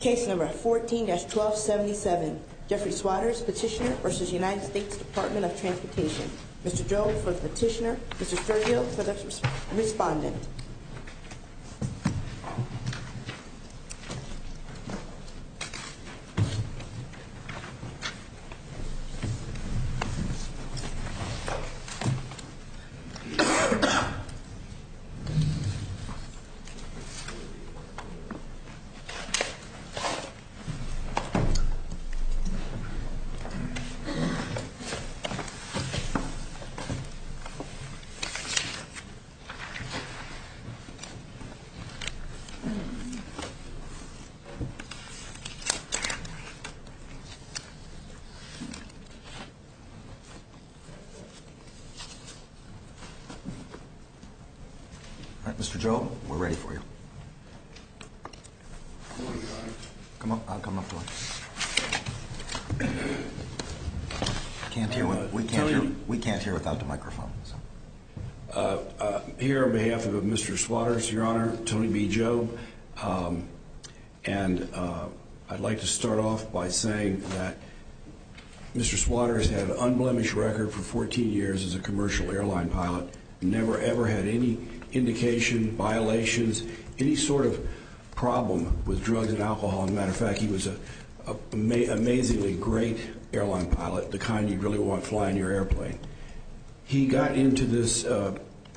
Case number 14-1277 Jeffrey Swaters petitioner versus United States Department of Transportation. Mr. Joe for the petitioner, Mr. Sergio for the respondent. Mr. Joe, we're ready for you. We can't hear without the microphone. Here on behalf of Mr. Swaters, your honor, Tony B. Joe. And I'd like to start off by saying that Mr. Swaters had an unblemished record for 14 years as a commercial airline pilot. Never, ever had any indication, violations, any sort of problem with drugs and alcohol. As a matter of fact, he was an amazingly great airline pilot, the kind you'd really want flying your airplane. He got into this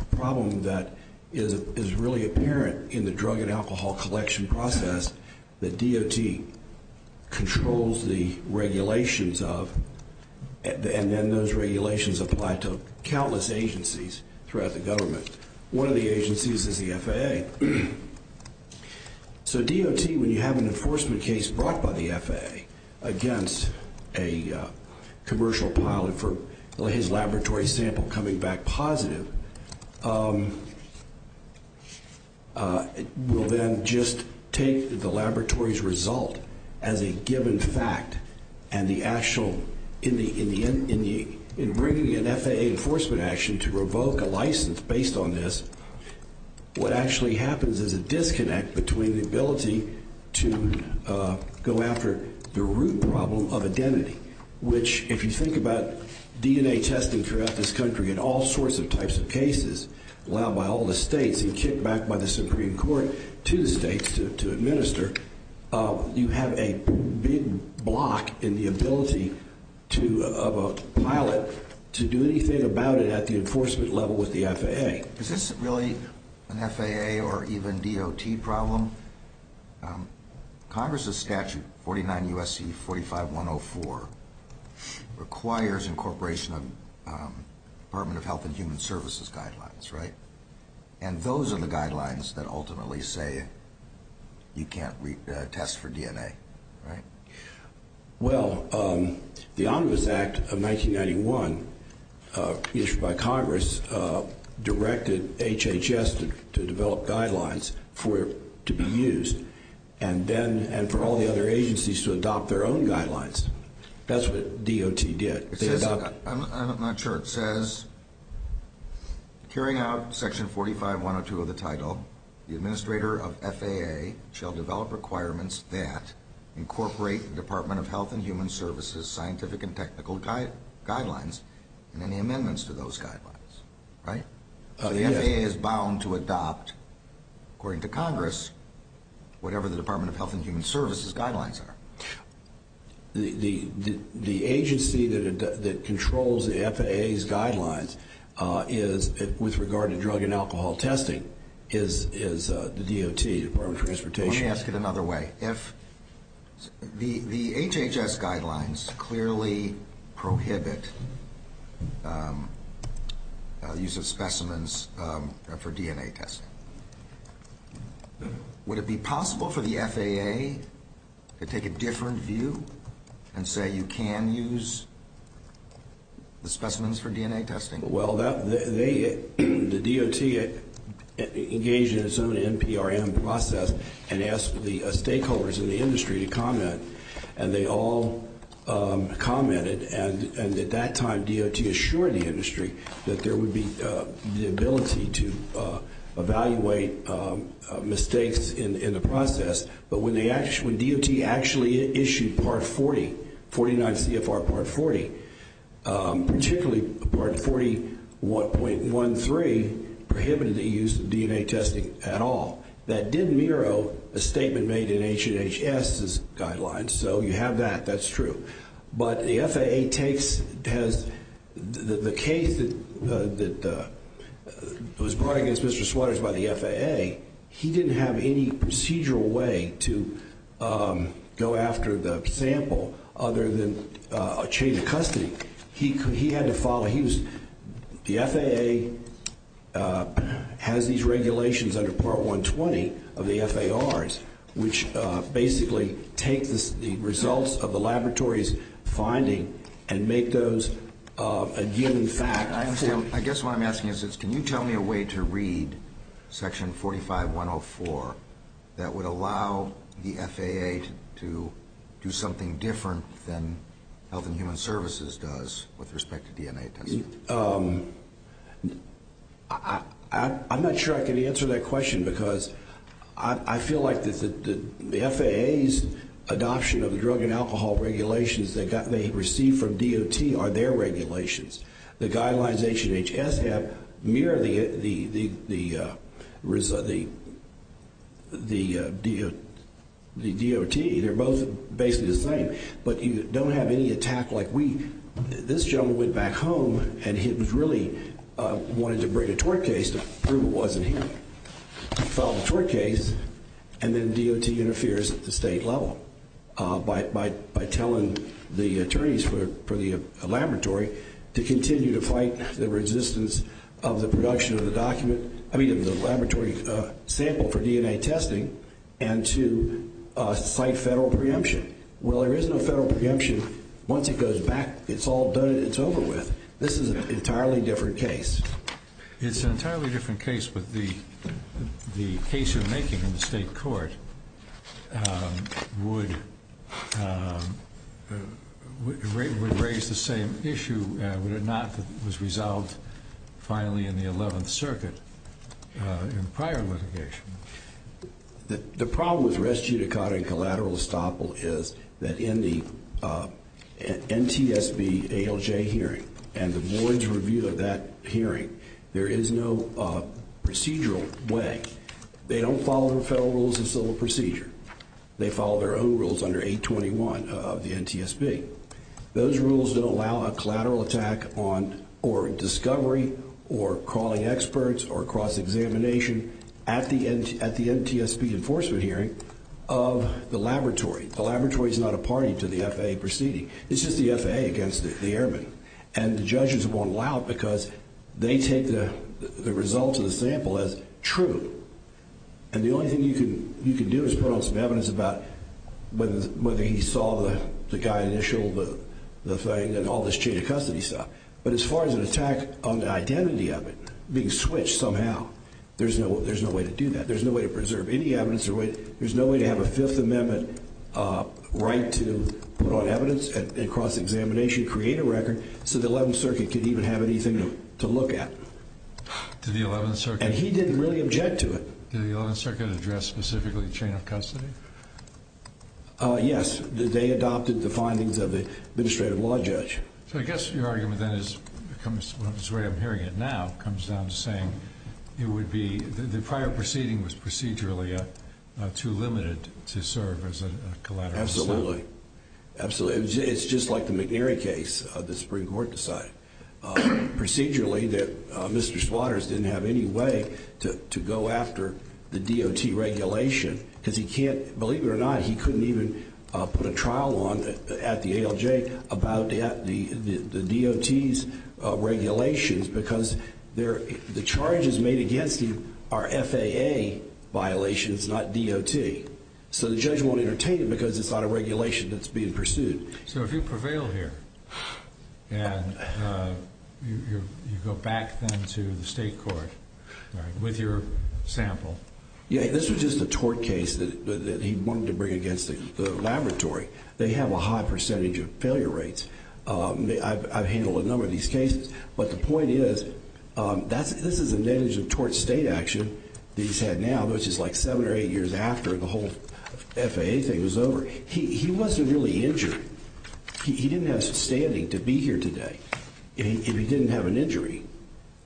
problem that is really apparent in the drug and alcohol collection process that DOT controls the regulations of and then those regulations apply to countless agencies throughout the government. One of the agencies is the FAA. So DOT, when you have an enforcement case brought by the FAA against a commercial pilot for his laboratory sample coming back positive, will then just take the laboratory's result as a given fact and the actual, in bringing an FAA enforcement action to revoke a license based on this, what actually happens is a disconnect between the ability to go after the root problem of identity, which if you think about DNA testing throughout this country in all sorts of types of cases, allowed by all the states and kicked back by the Supreme Court to the states to administer, you have a big block in the ability of a pilot to do anything about it at the enforcement level with the FAA. Is this really an FAA or even DOT problem? Congress's statute, 49 U.S.C. 45104, requires incorporation of Department of Health and Human Services guidelines, right? And those are the guidelines that ultimately say you can't test for DNA, right? Well, the Ombuds Act of 1991, issued by Congress, directed HHS to develop guidelines for it to be used and for all the other agencies to adopt their own guidelines. That's what DOT did. I'm not sure. It says, carrying out section 45102 of the title, the administrator of FAA shall develop requirements that incorporate the Department of Health and Human Services scientific and technical guidelines and any amendments to those guidelines, right? The FAA is bound to adopt, according to Congress, whatever the Department of Health and Human Services guidelines are. The agency that controls the FAA's guidelines is, with regard to drug and alcohol testing, is the DOT, Department of Transportation. Let me ask it another way. If the HHS guidelines clearly prohibit the use of specimens for DNA testing, would it be possible for the FAA to take a different view and say you can use the specimens for DNA testing? Well, the DOT engaged in its own NPRM process and asked the stakeholders in the industry to comment, and they all commented. And at that time, DOT assured the industry that there would be the ability to evaluate mistakes in the process. But when DOT actually issued Part 40, 49 CFR Part 40, particularly Part 41.13, prohibited the use of DNA testing at all. That didn't mirror a statement made in HHS's guidelines. So you have that. That's true. But the FAA takes the case that was brought against Mr. Sweaters by the FAA. He didn't have any procedural way to go after the sample other than a chain of custody. He had to follow. The FAA has these regulations under Part 120 of the FARs, which basically take the results of the laboratory's finding and make those a given fact. I guess what I'm asking is, can you tell me a way to read Section 45.104 that would allow the FAA to do something different than Health and Human Services does with respect to DNA testing? I'm not sure I can answer that question because I feel like the FAA's adoption of the drug and alcohol regulations that they received from DOT are their regulations. The guidelines HHS have mirror the DOT. They're both basically the same. But you don't have any attack like we do. This gentleman went back home and he really wanted to bring a tort case to prove it wasn't him. He filed the tort case and then DOT interferes at the state level by telling the attorneys for the laboratory to continue to fight the resistance of the production of the laboratory sample for DNA testing and to cite federal preemption. Well, there is no federal preemption. Once it goes back, it's all done and it's over with. This is an entirely different case. It's an entirely different case, but the case you're making in the state court would raise the same issue, would it not, that was resolved finally in the 11th Circuit in prior litigation. The problem with res judicata and collateral estoppel is that in the NTSB ALJ hearing and the board's review of that hearing, there is no procedural way. They don't follow the federal rules of civil procedure. They follow their own rules under 821 of the NTSB. Those rules don't allow a collateral attack or discovery or calling experts or cross-examination at the NTSB enforcement hearing of the laboratory. The laboratory is not a party to the FAA proceeding. It's just the FAA against the airmen. And the judges won't allow it because they take the results of the sample as true. And the only thing you can do is put on some evidence about whether he saw the guy initial, the thing, and all this chain of custody stuff. But as far as an attack on the identity of it being switched somehow, there's no way to do that. There's no way to preserve any evidence. There's no way to have a Fifth Amendment right to put on evidence and cross-examination, create a record, so the 11th Circuit could even have anything to look at. To the 11th Circuit? And he didn't really object to it. Did the 11th Circuit address specifically the chain of custody? Yes. They adopted the findings of the administrative law judge. So I guess your argument then is, from the way I'm hearing it now, comes down to saying it would be, the prior proceeding was procedurally too limited to serve as a collateral assault. Absolutely. Absolutely. It's just like the McNary case the Supreme Court decided. Procedurally that Mr. Squatters didn't have any way to go after the DOT regulation. Because he can't, believe it or not, he couldn't even put a trial on at the ALJ about the DOT's regulations. Because the charges made against him are FAA violations, not DOT. So the judge won't entertain it because it's not a regulation that's being pursued. So if you prevail here, and you go back then to the state court with your sample. Yeah, this was just a tort case that he wanted to bring against the laboratory. They have a high percentage of failure rates. I've handled a number of these cases. But the point is, this is a nettedge of tort state action that he's had now, which is like seven or eight years after the whole FAA thing was over. He wasn't really injured. He didn't have standing to be here today if he didn't have an injury.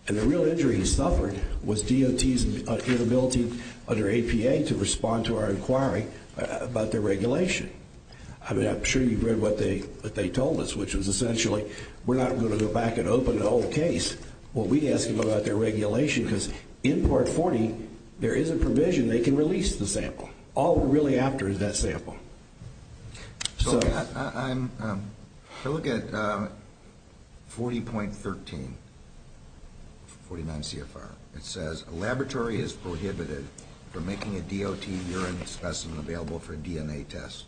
And the real injury he suffered was DOT's inability under APA to respond to our inquiry about their regulation. I mean, I'm sure you've read what they told us, which was essentially, we're not going to go back and open the whole case. Well, we asked them about their regulation because in Part 40, there is a provision they can release the sample. All we're really after is that sample. So I look at 40.13, 49 CFR. It says, a laboratory is prohibited from making a DOT urine specimen available for a DNA test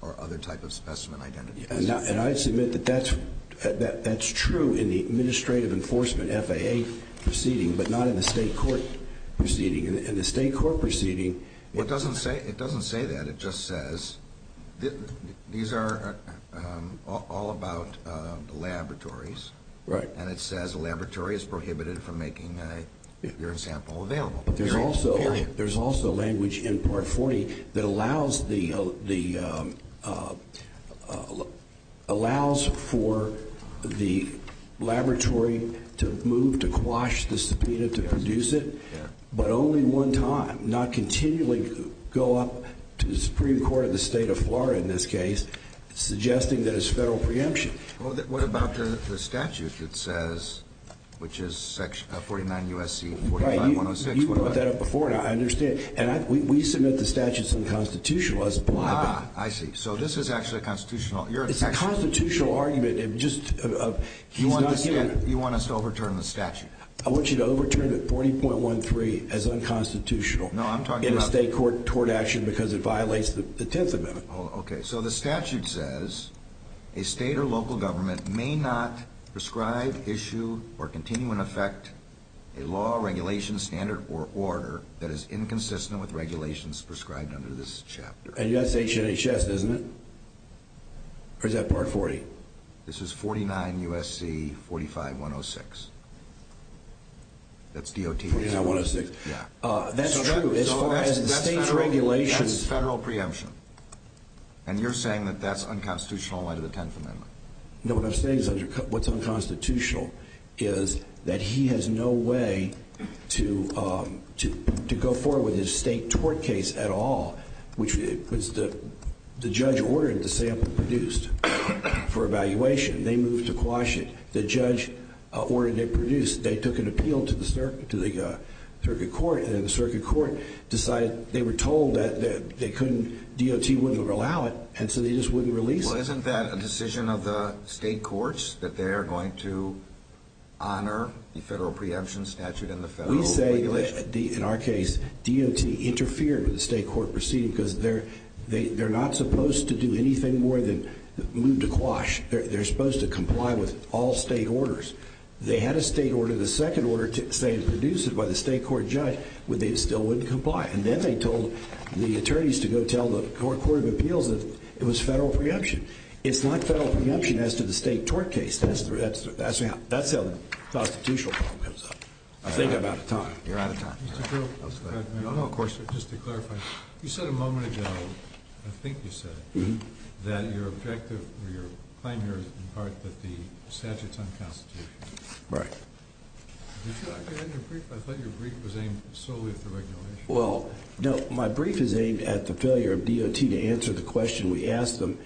or other type of specimen identity. And I submit that that's true in the administrative enforcement FAA proceeding, but not in the state court proceeding. It doesn't say that. It just says these are all about laboratories. Right. And it says a laboratory is prohibited from making a urine sample available. There's also language in Part 40 that allows for the laboratory to move, to quash the subpoena, to produce it, but only one time. Not continually go up to the Supreme Court of the state of Florida in this case, suggesting that it's federal preemption. Well, what about the statute that says, which is 49 U.S.C. 49106? You brought that up before, and I understand. And we submit the statute's unconstitutional. Ah, I see. So this is actually constitutional. It's a constitutional argument. You want us to overturn the statute? I want you to overturn 40.13 as unconstitutional in a state court tort action because it violates the Tenth Amendment. Okay. So the statute says a state or local government may not prescribe, issue, or continue in effect a law, regulation, standard, or order that is inconsistent with regulations prescribed under this chapter. And that's HHS, isn't it? Or is that Part 40? This is 49 U.S.C. 45106. That's D.O.T. 49106. Yeah. That's true. That's federal preemption. And you're saying that that's unconstitutional under the Tenth Amendment. No, what I'm saying is what's unconstitutional is that he has no way to go forward with his state tort case at all. The judge ordered the sample produced for evaluation. They moved to quash it. The judge ordered it produced. They took an appeal to the circuit court, and the circuit court decided they were told that D.O.T. wouldn't allow it, and so they just wouldn't release it. Well, isn't that a decision of the state courts that they are going to honor the federal preemption statute and the federal regulation? We say, in our case, D.O.T. interfered with the state court proceeding because they're not supposed to do anything more than move to quash. They're supposed to comply with all state orders. They had a state order, the second order, to say it's produced by the state court judge, but they still wouldn't comply. And then they told the attorneys to go tell the court of appeals that it was federal preemption. It's not federal preemption as to the state tort case. That's how the constitutional problem comes up. I think I'm out of time. You're out of time. Just to clarify, you said a moment ago, I think you said, that your objective or your claim here is in part that the statute's unconstitutional. Right. I thought your brief was aimed solely at the regulation. Well, no, my brief is aimed at the failure of D.O.T. to answer the question we asked them,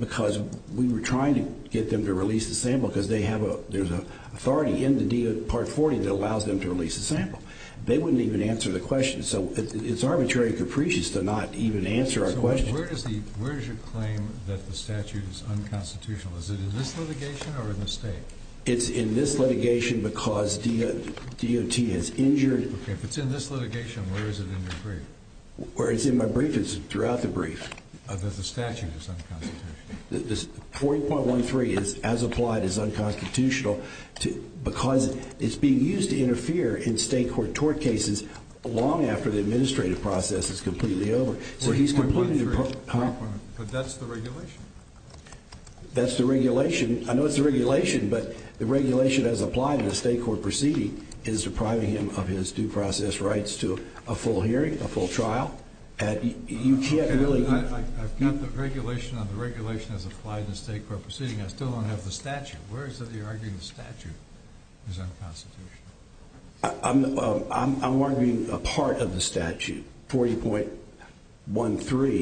because we were trying to get them to release the sample because there's an authority in the Part 40 that allows them to release the sample. They wouldn't even answer the question. So it's arbitrary and capricious to not even answer our question. So where does your claim that the statute is unconstitutional? Is it in this litigation or in the state? It's in this litigation because D.O.T. has injured it. Okay. If it's in this litigation, where is it in your brief? Where it's in my brief is throughout the brief. That the statute is unconstitutional. 40.13, as applied, is unconstitutional because it's being used to interfere in state court tort cases long after the administrative process is completely over. 40.13, but that's the regulation. That's the regulation. I know it's the regulation, but the regulation as applied in a state court proceeding is depriving him of his due process rights to a full hearing, a full trial. I've got the regulation and the regulation as applied in a state court proceeding. I still don't have the statute. Where is it that you're arguing the statute is unconstitutional? I'm arguing a part of the statute. 40.13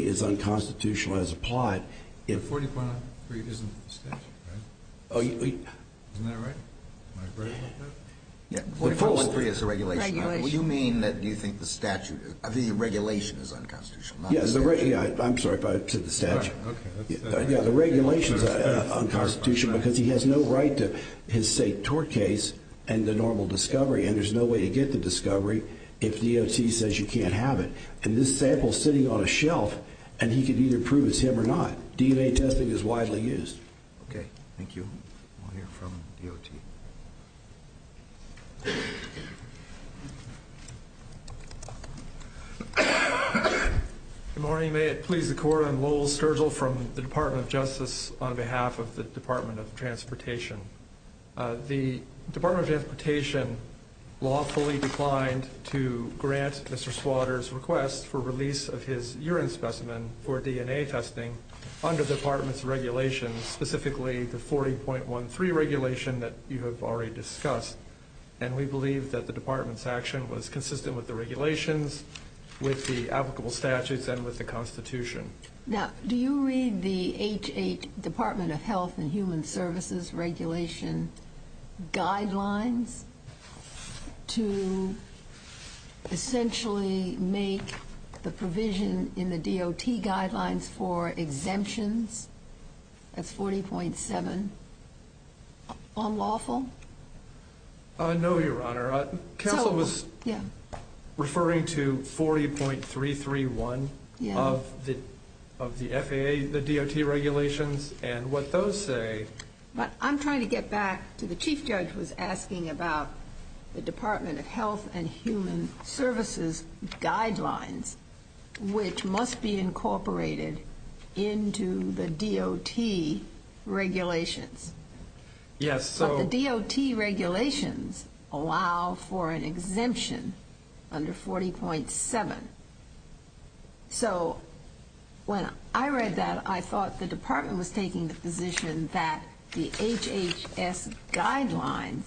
is unconstitutional as applied. 40.13 isn't the statute, right? Isn't that right? Am I correct about that? 40.13 is the regulation. You mean that you think the regulation is unconstitutional, not the statute? I'm sorry if I said the statute. The regulation is unconstitutional because he has no right to his state court case and the normal discovery, and there's no way to get the discovery if DOT says you can't have it. And this sample is sitting on a shelf, and he can either prove it's him or not. DNA testing is widely used. Okay, thank you. We'll hear from DOT. Good morning. May it please the Court, I'm Lowell Sturgill from the Department of Justice on behalf of the Department of Transportation. The Department of Transportation lawfully declined to grant Mr. Squatter's request for release of his urine specimen for DNA testing under the department's regulation, specifically the 40.13 regulation that you have already discussed. And we believe that the department's action was consistent with the regulations, with the applicable statutes, and with the Constitution. Now, do you read the H-8 Department of Health and Human Services regulation guidelines to essentially make the provision in the DOT guidelines for exemptions? That's 40.7. Unlawful? No, Your Honor. Counsel was referring to 40.331 of the FAA, the DOT regulations, and what those say. But I'm trying to get back to the Chief Judge was asking about the Department of Health and Human Services guidelines, which must be incorporated into the DOT regulations. Yes. But the DOT regulations allow for an exemption under 40.7. So when I read that, I thought the department was taking the position that the HHS guidelines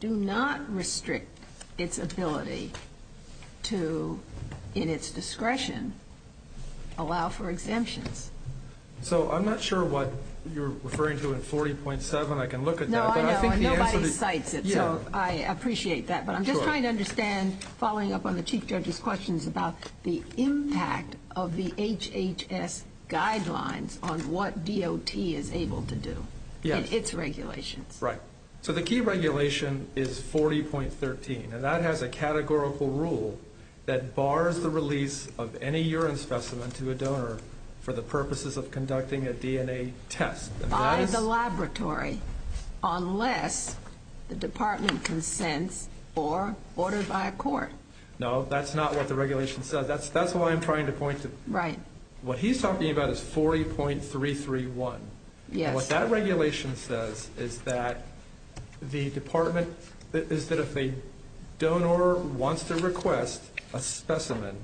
do not restrict its ability to, in its discretion, allow for exemptions. So I'm not sure what you're referring to in 40.7. I can look at that. No, I know. And nobody cites it. So I appreciate that. But I'm just trying to understand, following up on the Chief Judge's questions about the impact of the HHS guidelines on what DOT is able to do in its regulations. Right. So the key regulation is 40.13, and that has a categorical rule that bars the release of any urine specimen to a donor for the purposes of conducting a DNA test. By the laboratory, unless the department consents or ordered by a court. No, that's not what the regulation says. That's why I'm trying to point to – Right. What he's talking about is 40.331. Yes. And what that regulation says is that the department – is that if a donor wants to request a specimen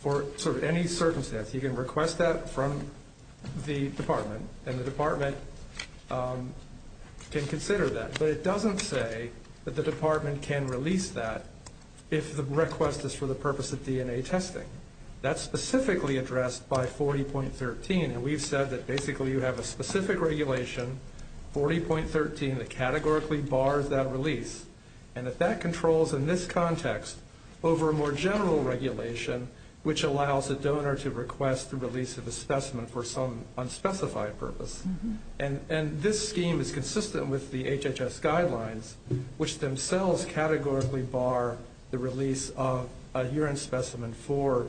for sort of any circumstance, you can request that from the department, and the department can consider that. But it doesn't say that the department can release that if the request is for the purpose of DNA testing. That's specifically addressed by 40.13. And we've said that basically you have a specific regulation, 40.13, that categorically bars that release. And that that controls, in this context, over a more general regulation, which allows a donor to request the release of a specimen for some unspecified purpose. And this scheme is consistent with the HHS guidelines, which themselves categorically bar the release of a urine specimen for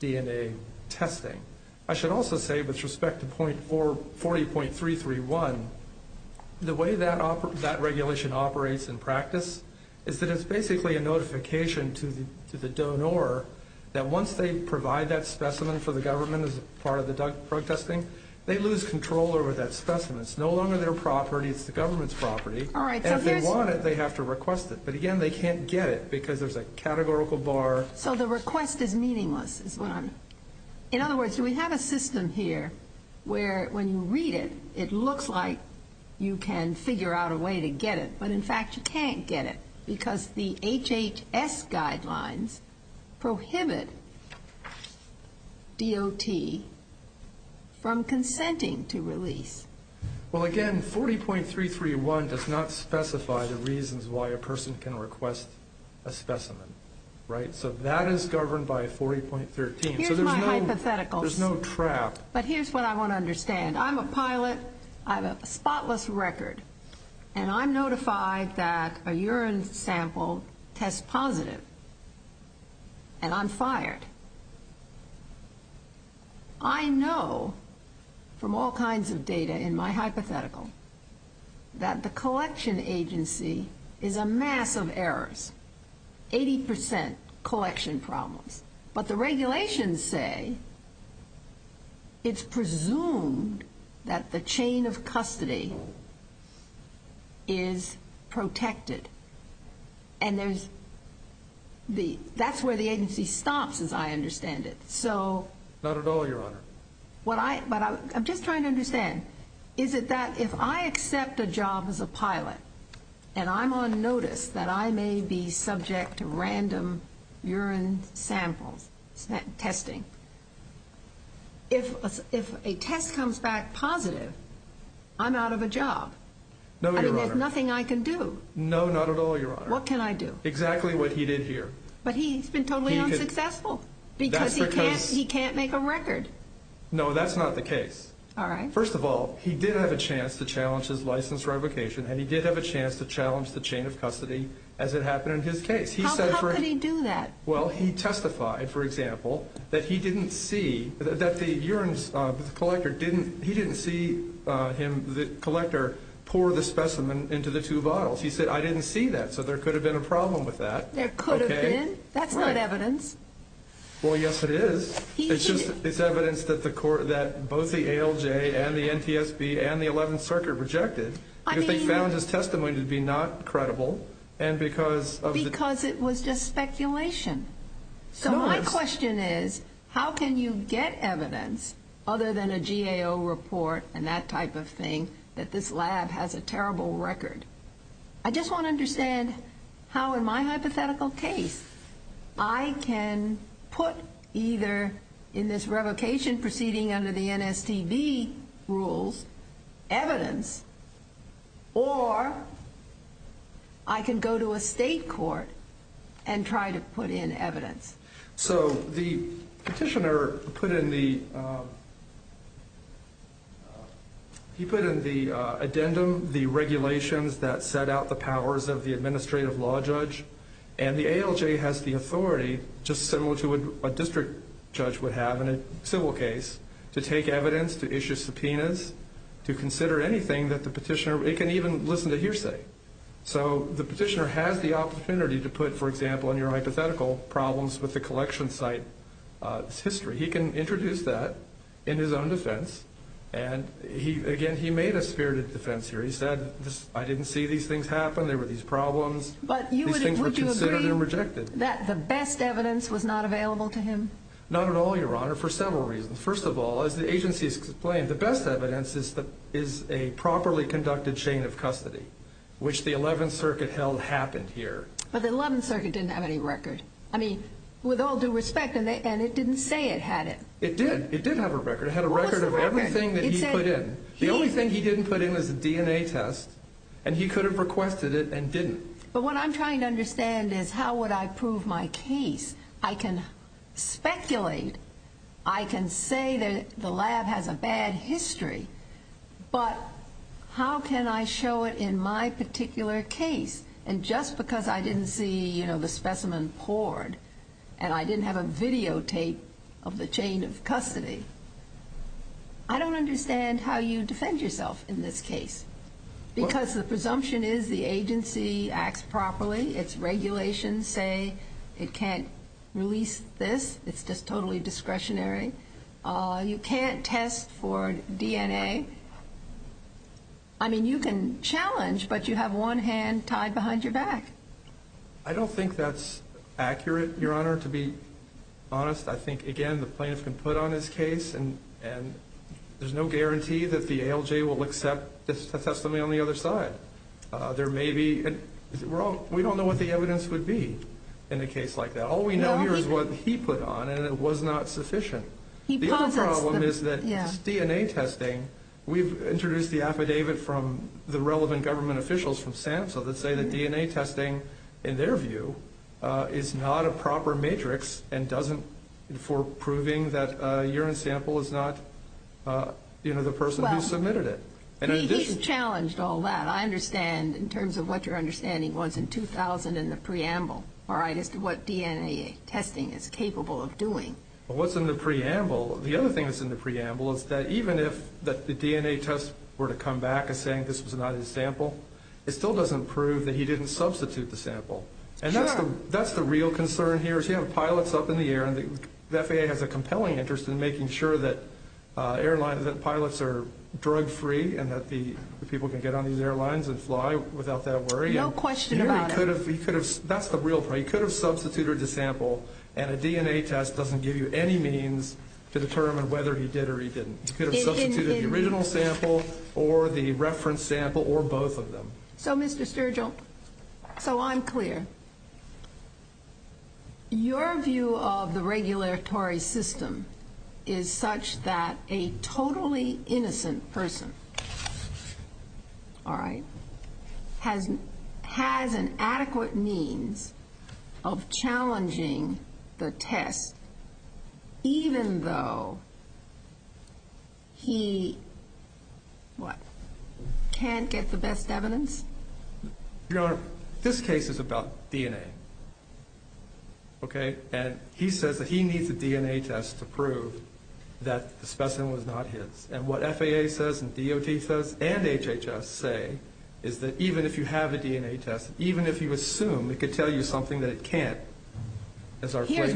DNA testing. I should also say, with respect to 40.331, the way that regulation operates in practice is that it's basically a notification to the donor that once they provide that specimen for the government as part of the drug testing, they lose control over that specimen. It's no longer their property. It's the government's property. All right. So here's – And if they want it, they have to request it. But, again, they can't get it because there's a categorical bar. So the request is meaningless, is what I'm – In other words, we have a system here where when you read it, it looks like you can figure out a way to get it. But, in fact, you can't get it because the HHS guidelines prohibit DOT from consenting to release. Well, again, 40.331 does not specify the reasons why a person can request a specimen. Right? So that is governed by 40.13. So there's no – Here's my hypothetical. There's no trap. But here's what I want to understand. I'm a pilot. I have a spotless record. And I'm notified that a urine sample tests positive. And I'm fired. I know from all kinds of data in my hypothetical that the collection agency is a mess of errors, 80 percent collection problems. But the regulations say it's presumed that the chain of custody is protected. And there's – that's where the agency stops, as I understand it. So – Not at all, Your Honor. But I'm just trying to understand. Is it that if I accept a job as a pilot and I'm on notice that I may be subject to random urine samples testing, if a test comes back positive, I'm out of a job? No, Your Honor. I mean, there's nothing I can do. No, not at all, Your Honor. What can I do? Exactly what he did here. But he's been totally unsuccessful because he can't make a record. No, that's not the case. All right. First of all, he did have a chance to challenge his license revocation, and he did have a chance to challenge the chain of custody, as it happened in his case. How could he do that? Well, he testified, for example, that he didn't see – that the urine – the collector didn't – he didn't see him, the collector, pour the specimen into the two bottles. He said, I didn't see that, so there could have been a problem with that. There could have been? Right. That's not evidence. Well, yes, it is. It's evidence that the court – that both the ALJ and the NTSB and the 11th Circuit rejected because they found his testimony to be not credible and because of the – Because it was just speculation. So my question is, how can you get evidence, other than a GAO report and that type of thing, that this lab has a terrible record? I just want to understand how, in my hypothetical case, I can put either, in this revocation proceeding under the NSTB rules, evidence, or I can go to a state court and try to put in evidence. So the petitioner put in the – he put in the addendum the regulations that set out the powers of the administrative law judge. And the ALJ has the authority, just similar to what a district judge would have in a civil case, to take evidence, to issue subpoenas, to consider anything that the petitioner – it can even listen to hearsay. So the petitioner has the opportunity to put, for example, in your hypothetical, problems with the collection site history. He can introduce that in his own defense. And he – again, he made a spirited defense here. He said, I didn't see these things happen. There were these problems. These things were considered and rejected. But you would agree that the best evidence was not available to him? Not at all, Your Honor, for several reasons. First of all, as the agency has explained, the best evidence is a properly conducted chain of custody, which the 11th Circuit held happened here. But the 11th Circuit didn't have any record. I mean, with all due respect, and it didn't say it had it. It did. It did have a record. It had a record of everything that he put in. The only thing he didn't put in was a DNA test, and he could have requested it and didn't. But what I'm trying to understand is how would I prove my case? I can speculate. I can say that the lab has a bad history. But how can I show it in my particular case? And just because I didn't see, you know, the specimen poured and I didn't have a videotape of the chain of custody, I don't understand how you defend yourself in this case. Because the presumption is the agency acts properly. Its regulations say it can't release this. It's just totally discretionary. You can't test for DNA. I mean, you can challenge, but you have one hand tied behind your back. I don't think that's accurate, Your Honor, to be honest. I think, again, the plaintiff can put on his case, and there's no guarantee that the ALJ will accept the testimony on the other side. We don't know what the evidence would be in a case like that. All we know here is what he put on, and it was not sufficient. The other problem is that DNA testing, we've introduced the affidavit from the relevant government officials from SAMHSA that say that DNA testing, in their view, is not a proper matrix for proving that a urine sample is not, you know, the person who submitted it. He's challenged all that. I understand, in terms of what your understanding was in 2000 in the preamble, all right, as to what DNA testing is capable of doing. What's in the preamble, the other thing that's in the preamble is that even if the DNA tests were to come back as saying this was not his sample, it still doesn't prove that he didn't substitute the sample. Sure. That's the real concern here is you have pilots up in the air, and the FAA has a compelling interest in making sure that pilots are drug-free and that the people can get on these airlines and fly without that worry. No question about it. That's the real problem. He could have substituted the sample, and a DNA test doesn't give you any means to determine whether he did or he didn't. He could have substituted the original sample or the reference sample or both of them. So, Mr. Sturgill, so I'm clear. Your view of the regulatory system is such that a totally innocent person, all right, has an adequate means of challenging the test even though he, what, can't get the best evidence? Your Honor, this case is about DNA, okay? And he says that he needs a DNA test to prove that the specimen was not his. And what FAA says and DOT says and HHS say is that even if you have a DNA test, even if you assume it could tell you something that it can't, as our plea goes,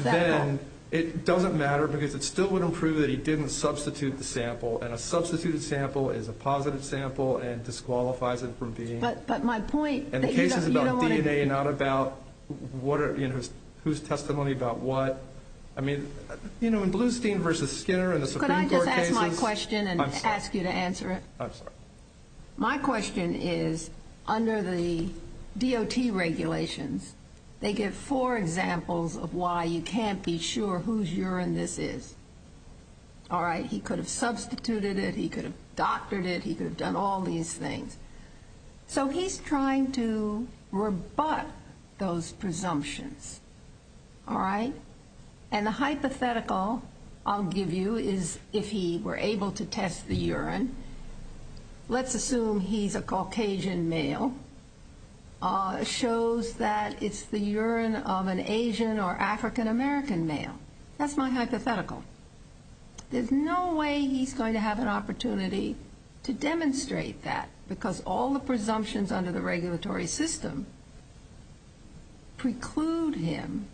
then it doesn't matter because it still wouldn't prove that he didn't substitute the sample. And a substituted sample is a positive sample and disqualifies it from being. But my point. And the case is about DNA, not about whose testimony about what. I mean, you know, in Blustein v. Skinner and the Supreme Court cases. Could I just ask my question and ask you to answer it? I'm sorry. My question is, under the DOT regulations, they give four examples of why you can't be sure whose urine this is. All right. He could have substituted it. He could have doctored it. He could have done all these things. So he's trying to rebut those presumptions. All right. And the hypothetical I'll give you is if he were able to test the urine. Let's assume he's a Caucasian male. Shows that it's the urine of an Asian or African American male. That's my hypothetical. There's no way he's going to have an opportunity to demonstrate that, because all the presumptions under the regulatory system preclude him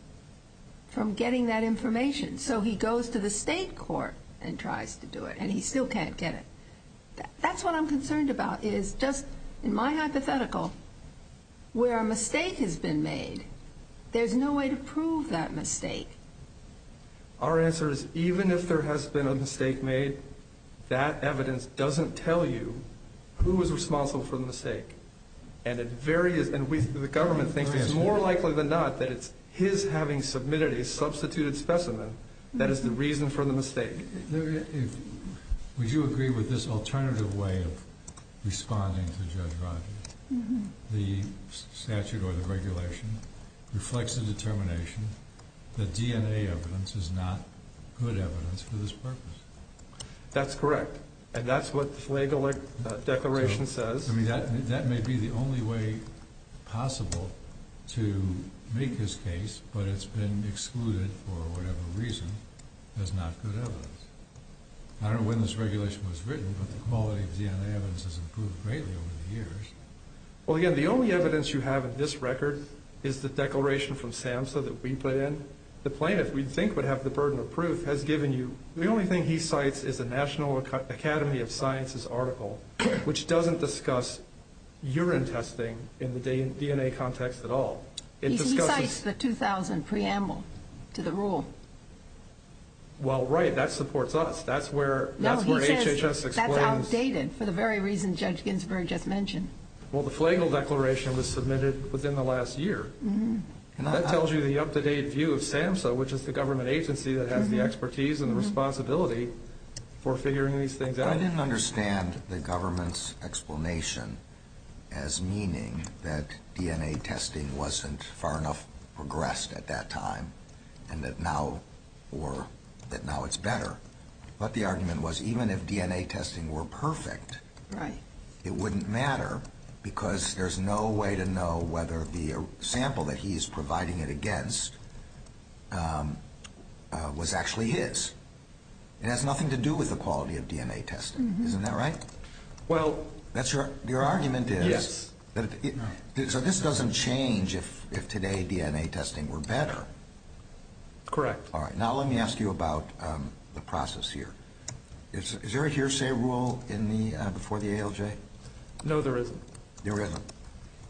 from getting that information. So he goes to the state court and tries to do it, and he still can't get it. That's what I'm concerned about, is just in my hypothetical, where a mistake has been made, there's no way to prove that mistake. Our answer is even if there has been a mistake made, that evidence doesn't tell you who is responsible for the mistake. And the government thinks it's more likely than not that it's his having submitted a substituted specimen that is the reason for the mistake. Would you agree with this alternative way of responding to Judge Rogers? The statute or the regulation reflects the determination that DNA evidence is not good evidence for this purpose. That's correct, and that's what the flag declaration says. That may be the only way possible to make this case, but it's been excluded for whatever reason as not good evidence. I don't know when this regulation was written, but the quality of DNA evidence has improved greatly over the years. Well, again, the only evidence you have in this record is the declaration from SAMHSA that we put in. The plaintiff, we think, would have the burden of proof. The only thing he cites is the National Academy of Sciences article, which doesn't discuss urine testing in the DNA context at all. He cites the 2000 preamble to the rule. Well, right, that supports us. That's where HHS explains. No, he says that's outdated for the very reason Judge Ginsburg just mentioned. Well, the flagle declaration was submitted within the last year, and that tells you the up-to-date view of SAMHSA, which is the government agency that has the expertise and the responsibility for figuring these things out. I didn't understand the government's explanation as meaning that DNA testing wasn't far enough progressed at that time, and that now it's better. But the argument was even if DNA testing were perfect, it wouldn't matter, because there's no way to know whether the sample that he's providing it against was actually his. It has nothing to do with the quality of DNA testing. Isn't that right? Well... Your argument is... Yes. So this doesn't change if today DNA testing were better. Correct. All right. Now let me ask you about the process here. Is there a hearsay rule before the ALJ? No, there isn't. There isn't.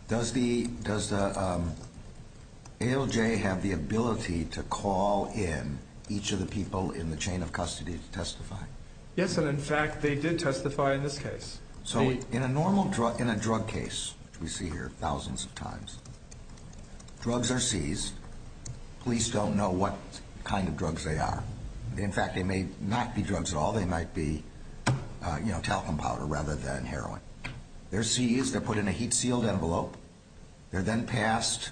Does the ALJ have the ability to call in each of the people in the chain of custody to testify? Yes, and, in fact, they did testify in this case. So in a drug case, which we see here thousands of times, drugs are seized. Police don't know what kind of drugs they are. In fact, they may not be drugs at all. They might be, you know, talcum powder rather than heroin. They're seized. They're put in a heat-sealed envelope. They're then passed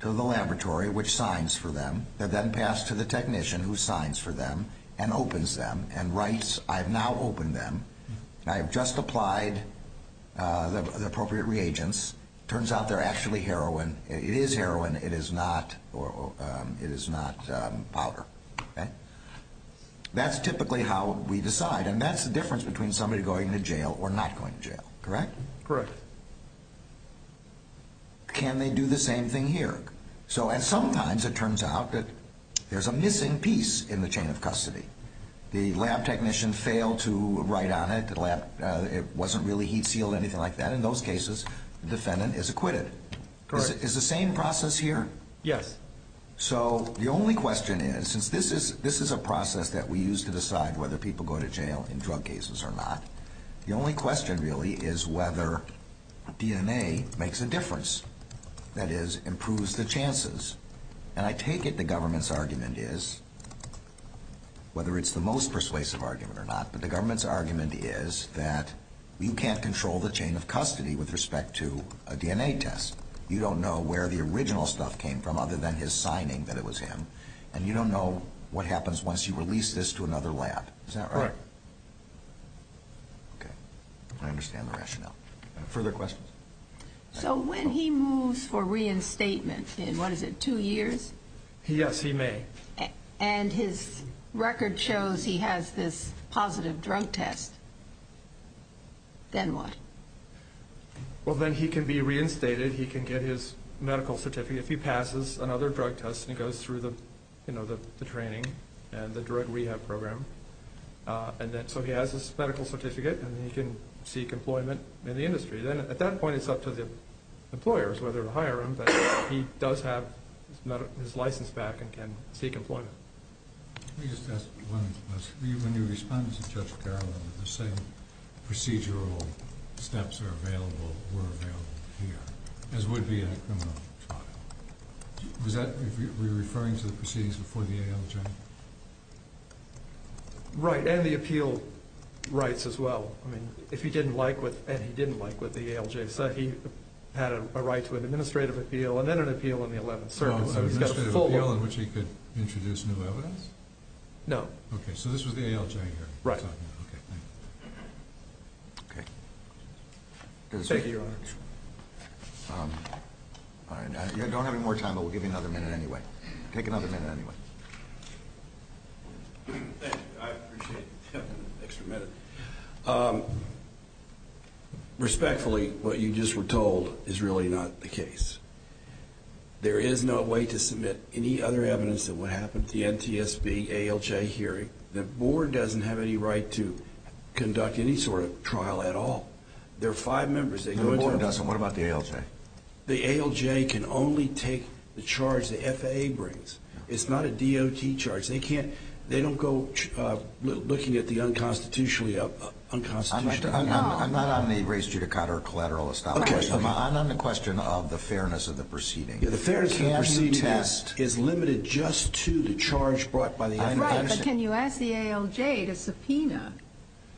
to the laboratory, which signs for them. They're then passed to the technician, who signs for them and opens them and writes, I have now opened them, and I have just applied the appropriate reagents. It turns out they're actually heroin. It is heroin. It is not powder. That's typically how we decide, and that's the difference between somebody going to jail or not going to jail. Correct? Correct. Can they do the same thing here? Sometimes it turns out that there's a missing piece in the chain of custody. The lab technician failed to write on it. It wasn't really heat-sealed or anything like that in those cases. The defendant is acquitted. Correct. Is the same process here? Yes. So the only question is, since this is a process that we use to decide whether people go to jail in drug cases or not, the only question really is whether DNA makes a difference, that is, improves the chances. And I take it the government's argument is, whether it's the most persuasive argument or not, but the government's argument is that you can't control the chain of custody with respect to a DNA test. You don't know where the original stuff came from other than his signing that it was him, and you don't know what happens once you release this to another lab. Is that right? Right. Okay. I understand the rationale. Further questions? So when he moves for reinstatement in, what is it, two years? Yes, he may. And his record shows he has this positive drug test. Then what? Well, then he can be reinstated, he can get his medical certificate. If he passes another drug test and he goes through the training and the drug rehab program, so he has his medical certificate and he can seek employment in the industry. Then at that point it's up to the employers whether to hire him, but he does have his license back and can seek employment. Let me just ask one question. When you responded to Judge Carroll that the same procedural steps are available, were available here, as would be in a criminal trial, was that referring to the proceedings before the ALJ? Right, and the appeal rights as well. If he didn't like what the ALJ said, he had a right to an administrative appeal and then an appeal in the Eleventh Circuit. An administrative appeal in which he could introduce new evidence? No. Okay, so this was the ALJ here. Right. Okay, thank you. Okay. Thank you, Your Honor. All right. You don't have any more time, but we'll give you another minute anyway. Take another minute anyway. Thank you. I appreciate having an extra minute. Respectfully, what you just were told is really not the case. There is no way to submit any other evidence than what happened at the NTSB ALJ hearing. The board doesn't have any right to conduct any sort of trial at all. There are five members. No, the board doesn't. What about the ALJ? The ALJ can only take the charge the FAA brings. It's not a DOT charge. They don't go looking at the unconstitutionally. I'm not on the race, judicata, or collateral establishment. I'm on the question of the fairness of the proceedings. The fairness of the proceedings is limited just to the charge brought by the FAA. Right, but can you ask the ALJ to subpoena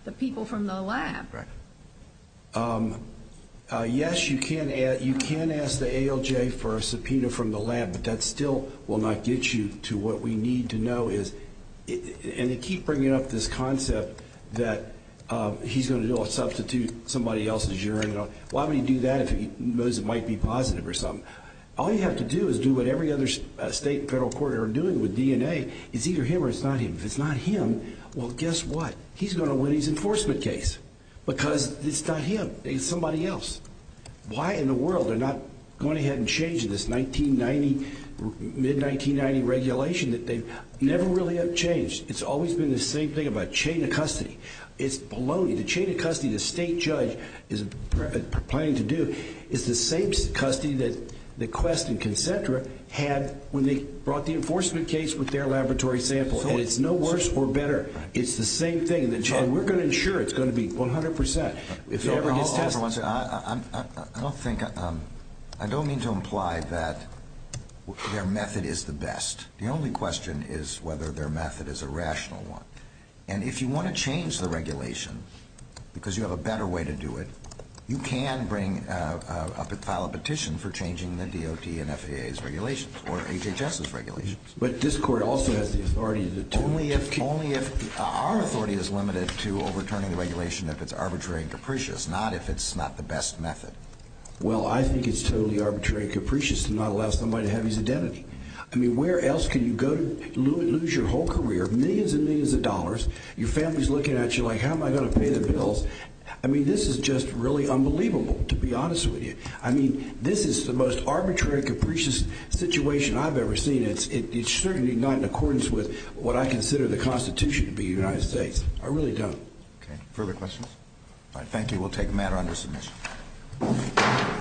the people from the lab? Yes, you can ask the ALJ for a subpoena from the lab, but that still will not get you to what we need to know. And they keep bringing up this concept that he's going to do a substitute, somebody else in the jury. Why would he do that if he knows it might be positive or something? All you have to do is do what every other state and federal court are doing with DNA. It's either him or it's not him. If it's not him, well, guess what? He's going to win his enforcement case because it's not him. It's somebody else. Why in the world are they not going ahead and changing this 1990, mid-1990 regulation that they never really have changed? It's always been the same thing about chain of custody. It's baloney. The chain of custody the state judge is planning to do is the same custody that Quest and Concentra had when they brought the enforcement case with their laboratory sample. And it's no worse or better. It's the same thing. We're going to ensure it's going to be 100% if it ever gets tested. I don't mean to imply that their method is the best. The only question is whether their method is a rational one. And if you want to change the regulation because you have a better way to do it, you can file a petition for changing the DOT and FAA's regulations or HHS's regulations. But this court also has the authority to determine. Only if our authority is limited to overturning the regulation if it's arbitrary and capricious, not if it's not the best method. Well, I think it's totally arbitrary and capricious to not allow somebody to have his identity. I mean, where else can you go to lose your whole career, millions and millions of dollars, your family's looking at you like, how am I going to pay the bills? I mean, this is just really unbelievable, to be honest with you. I mean, this is the most arbitrary and capricious situation I've ever seen. It's certainly not in accordance with what I consider the Constitution to be in the United States. I really don't. Okay, further questions? All right, thank you. We'll take a matter under submission.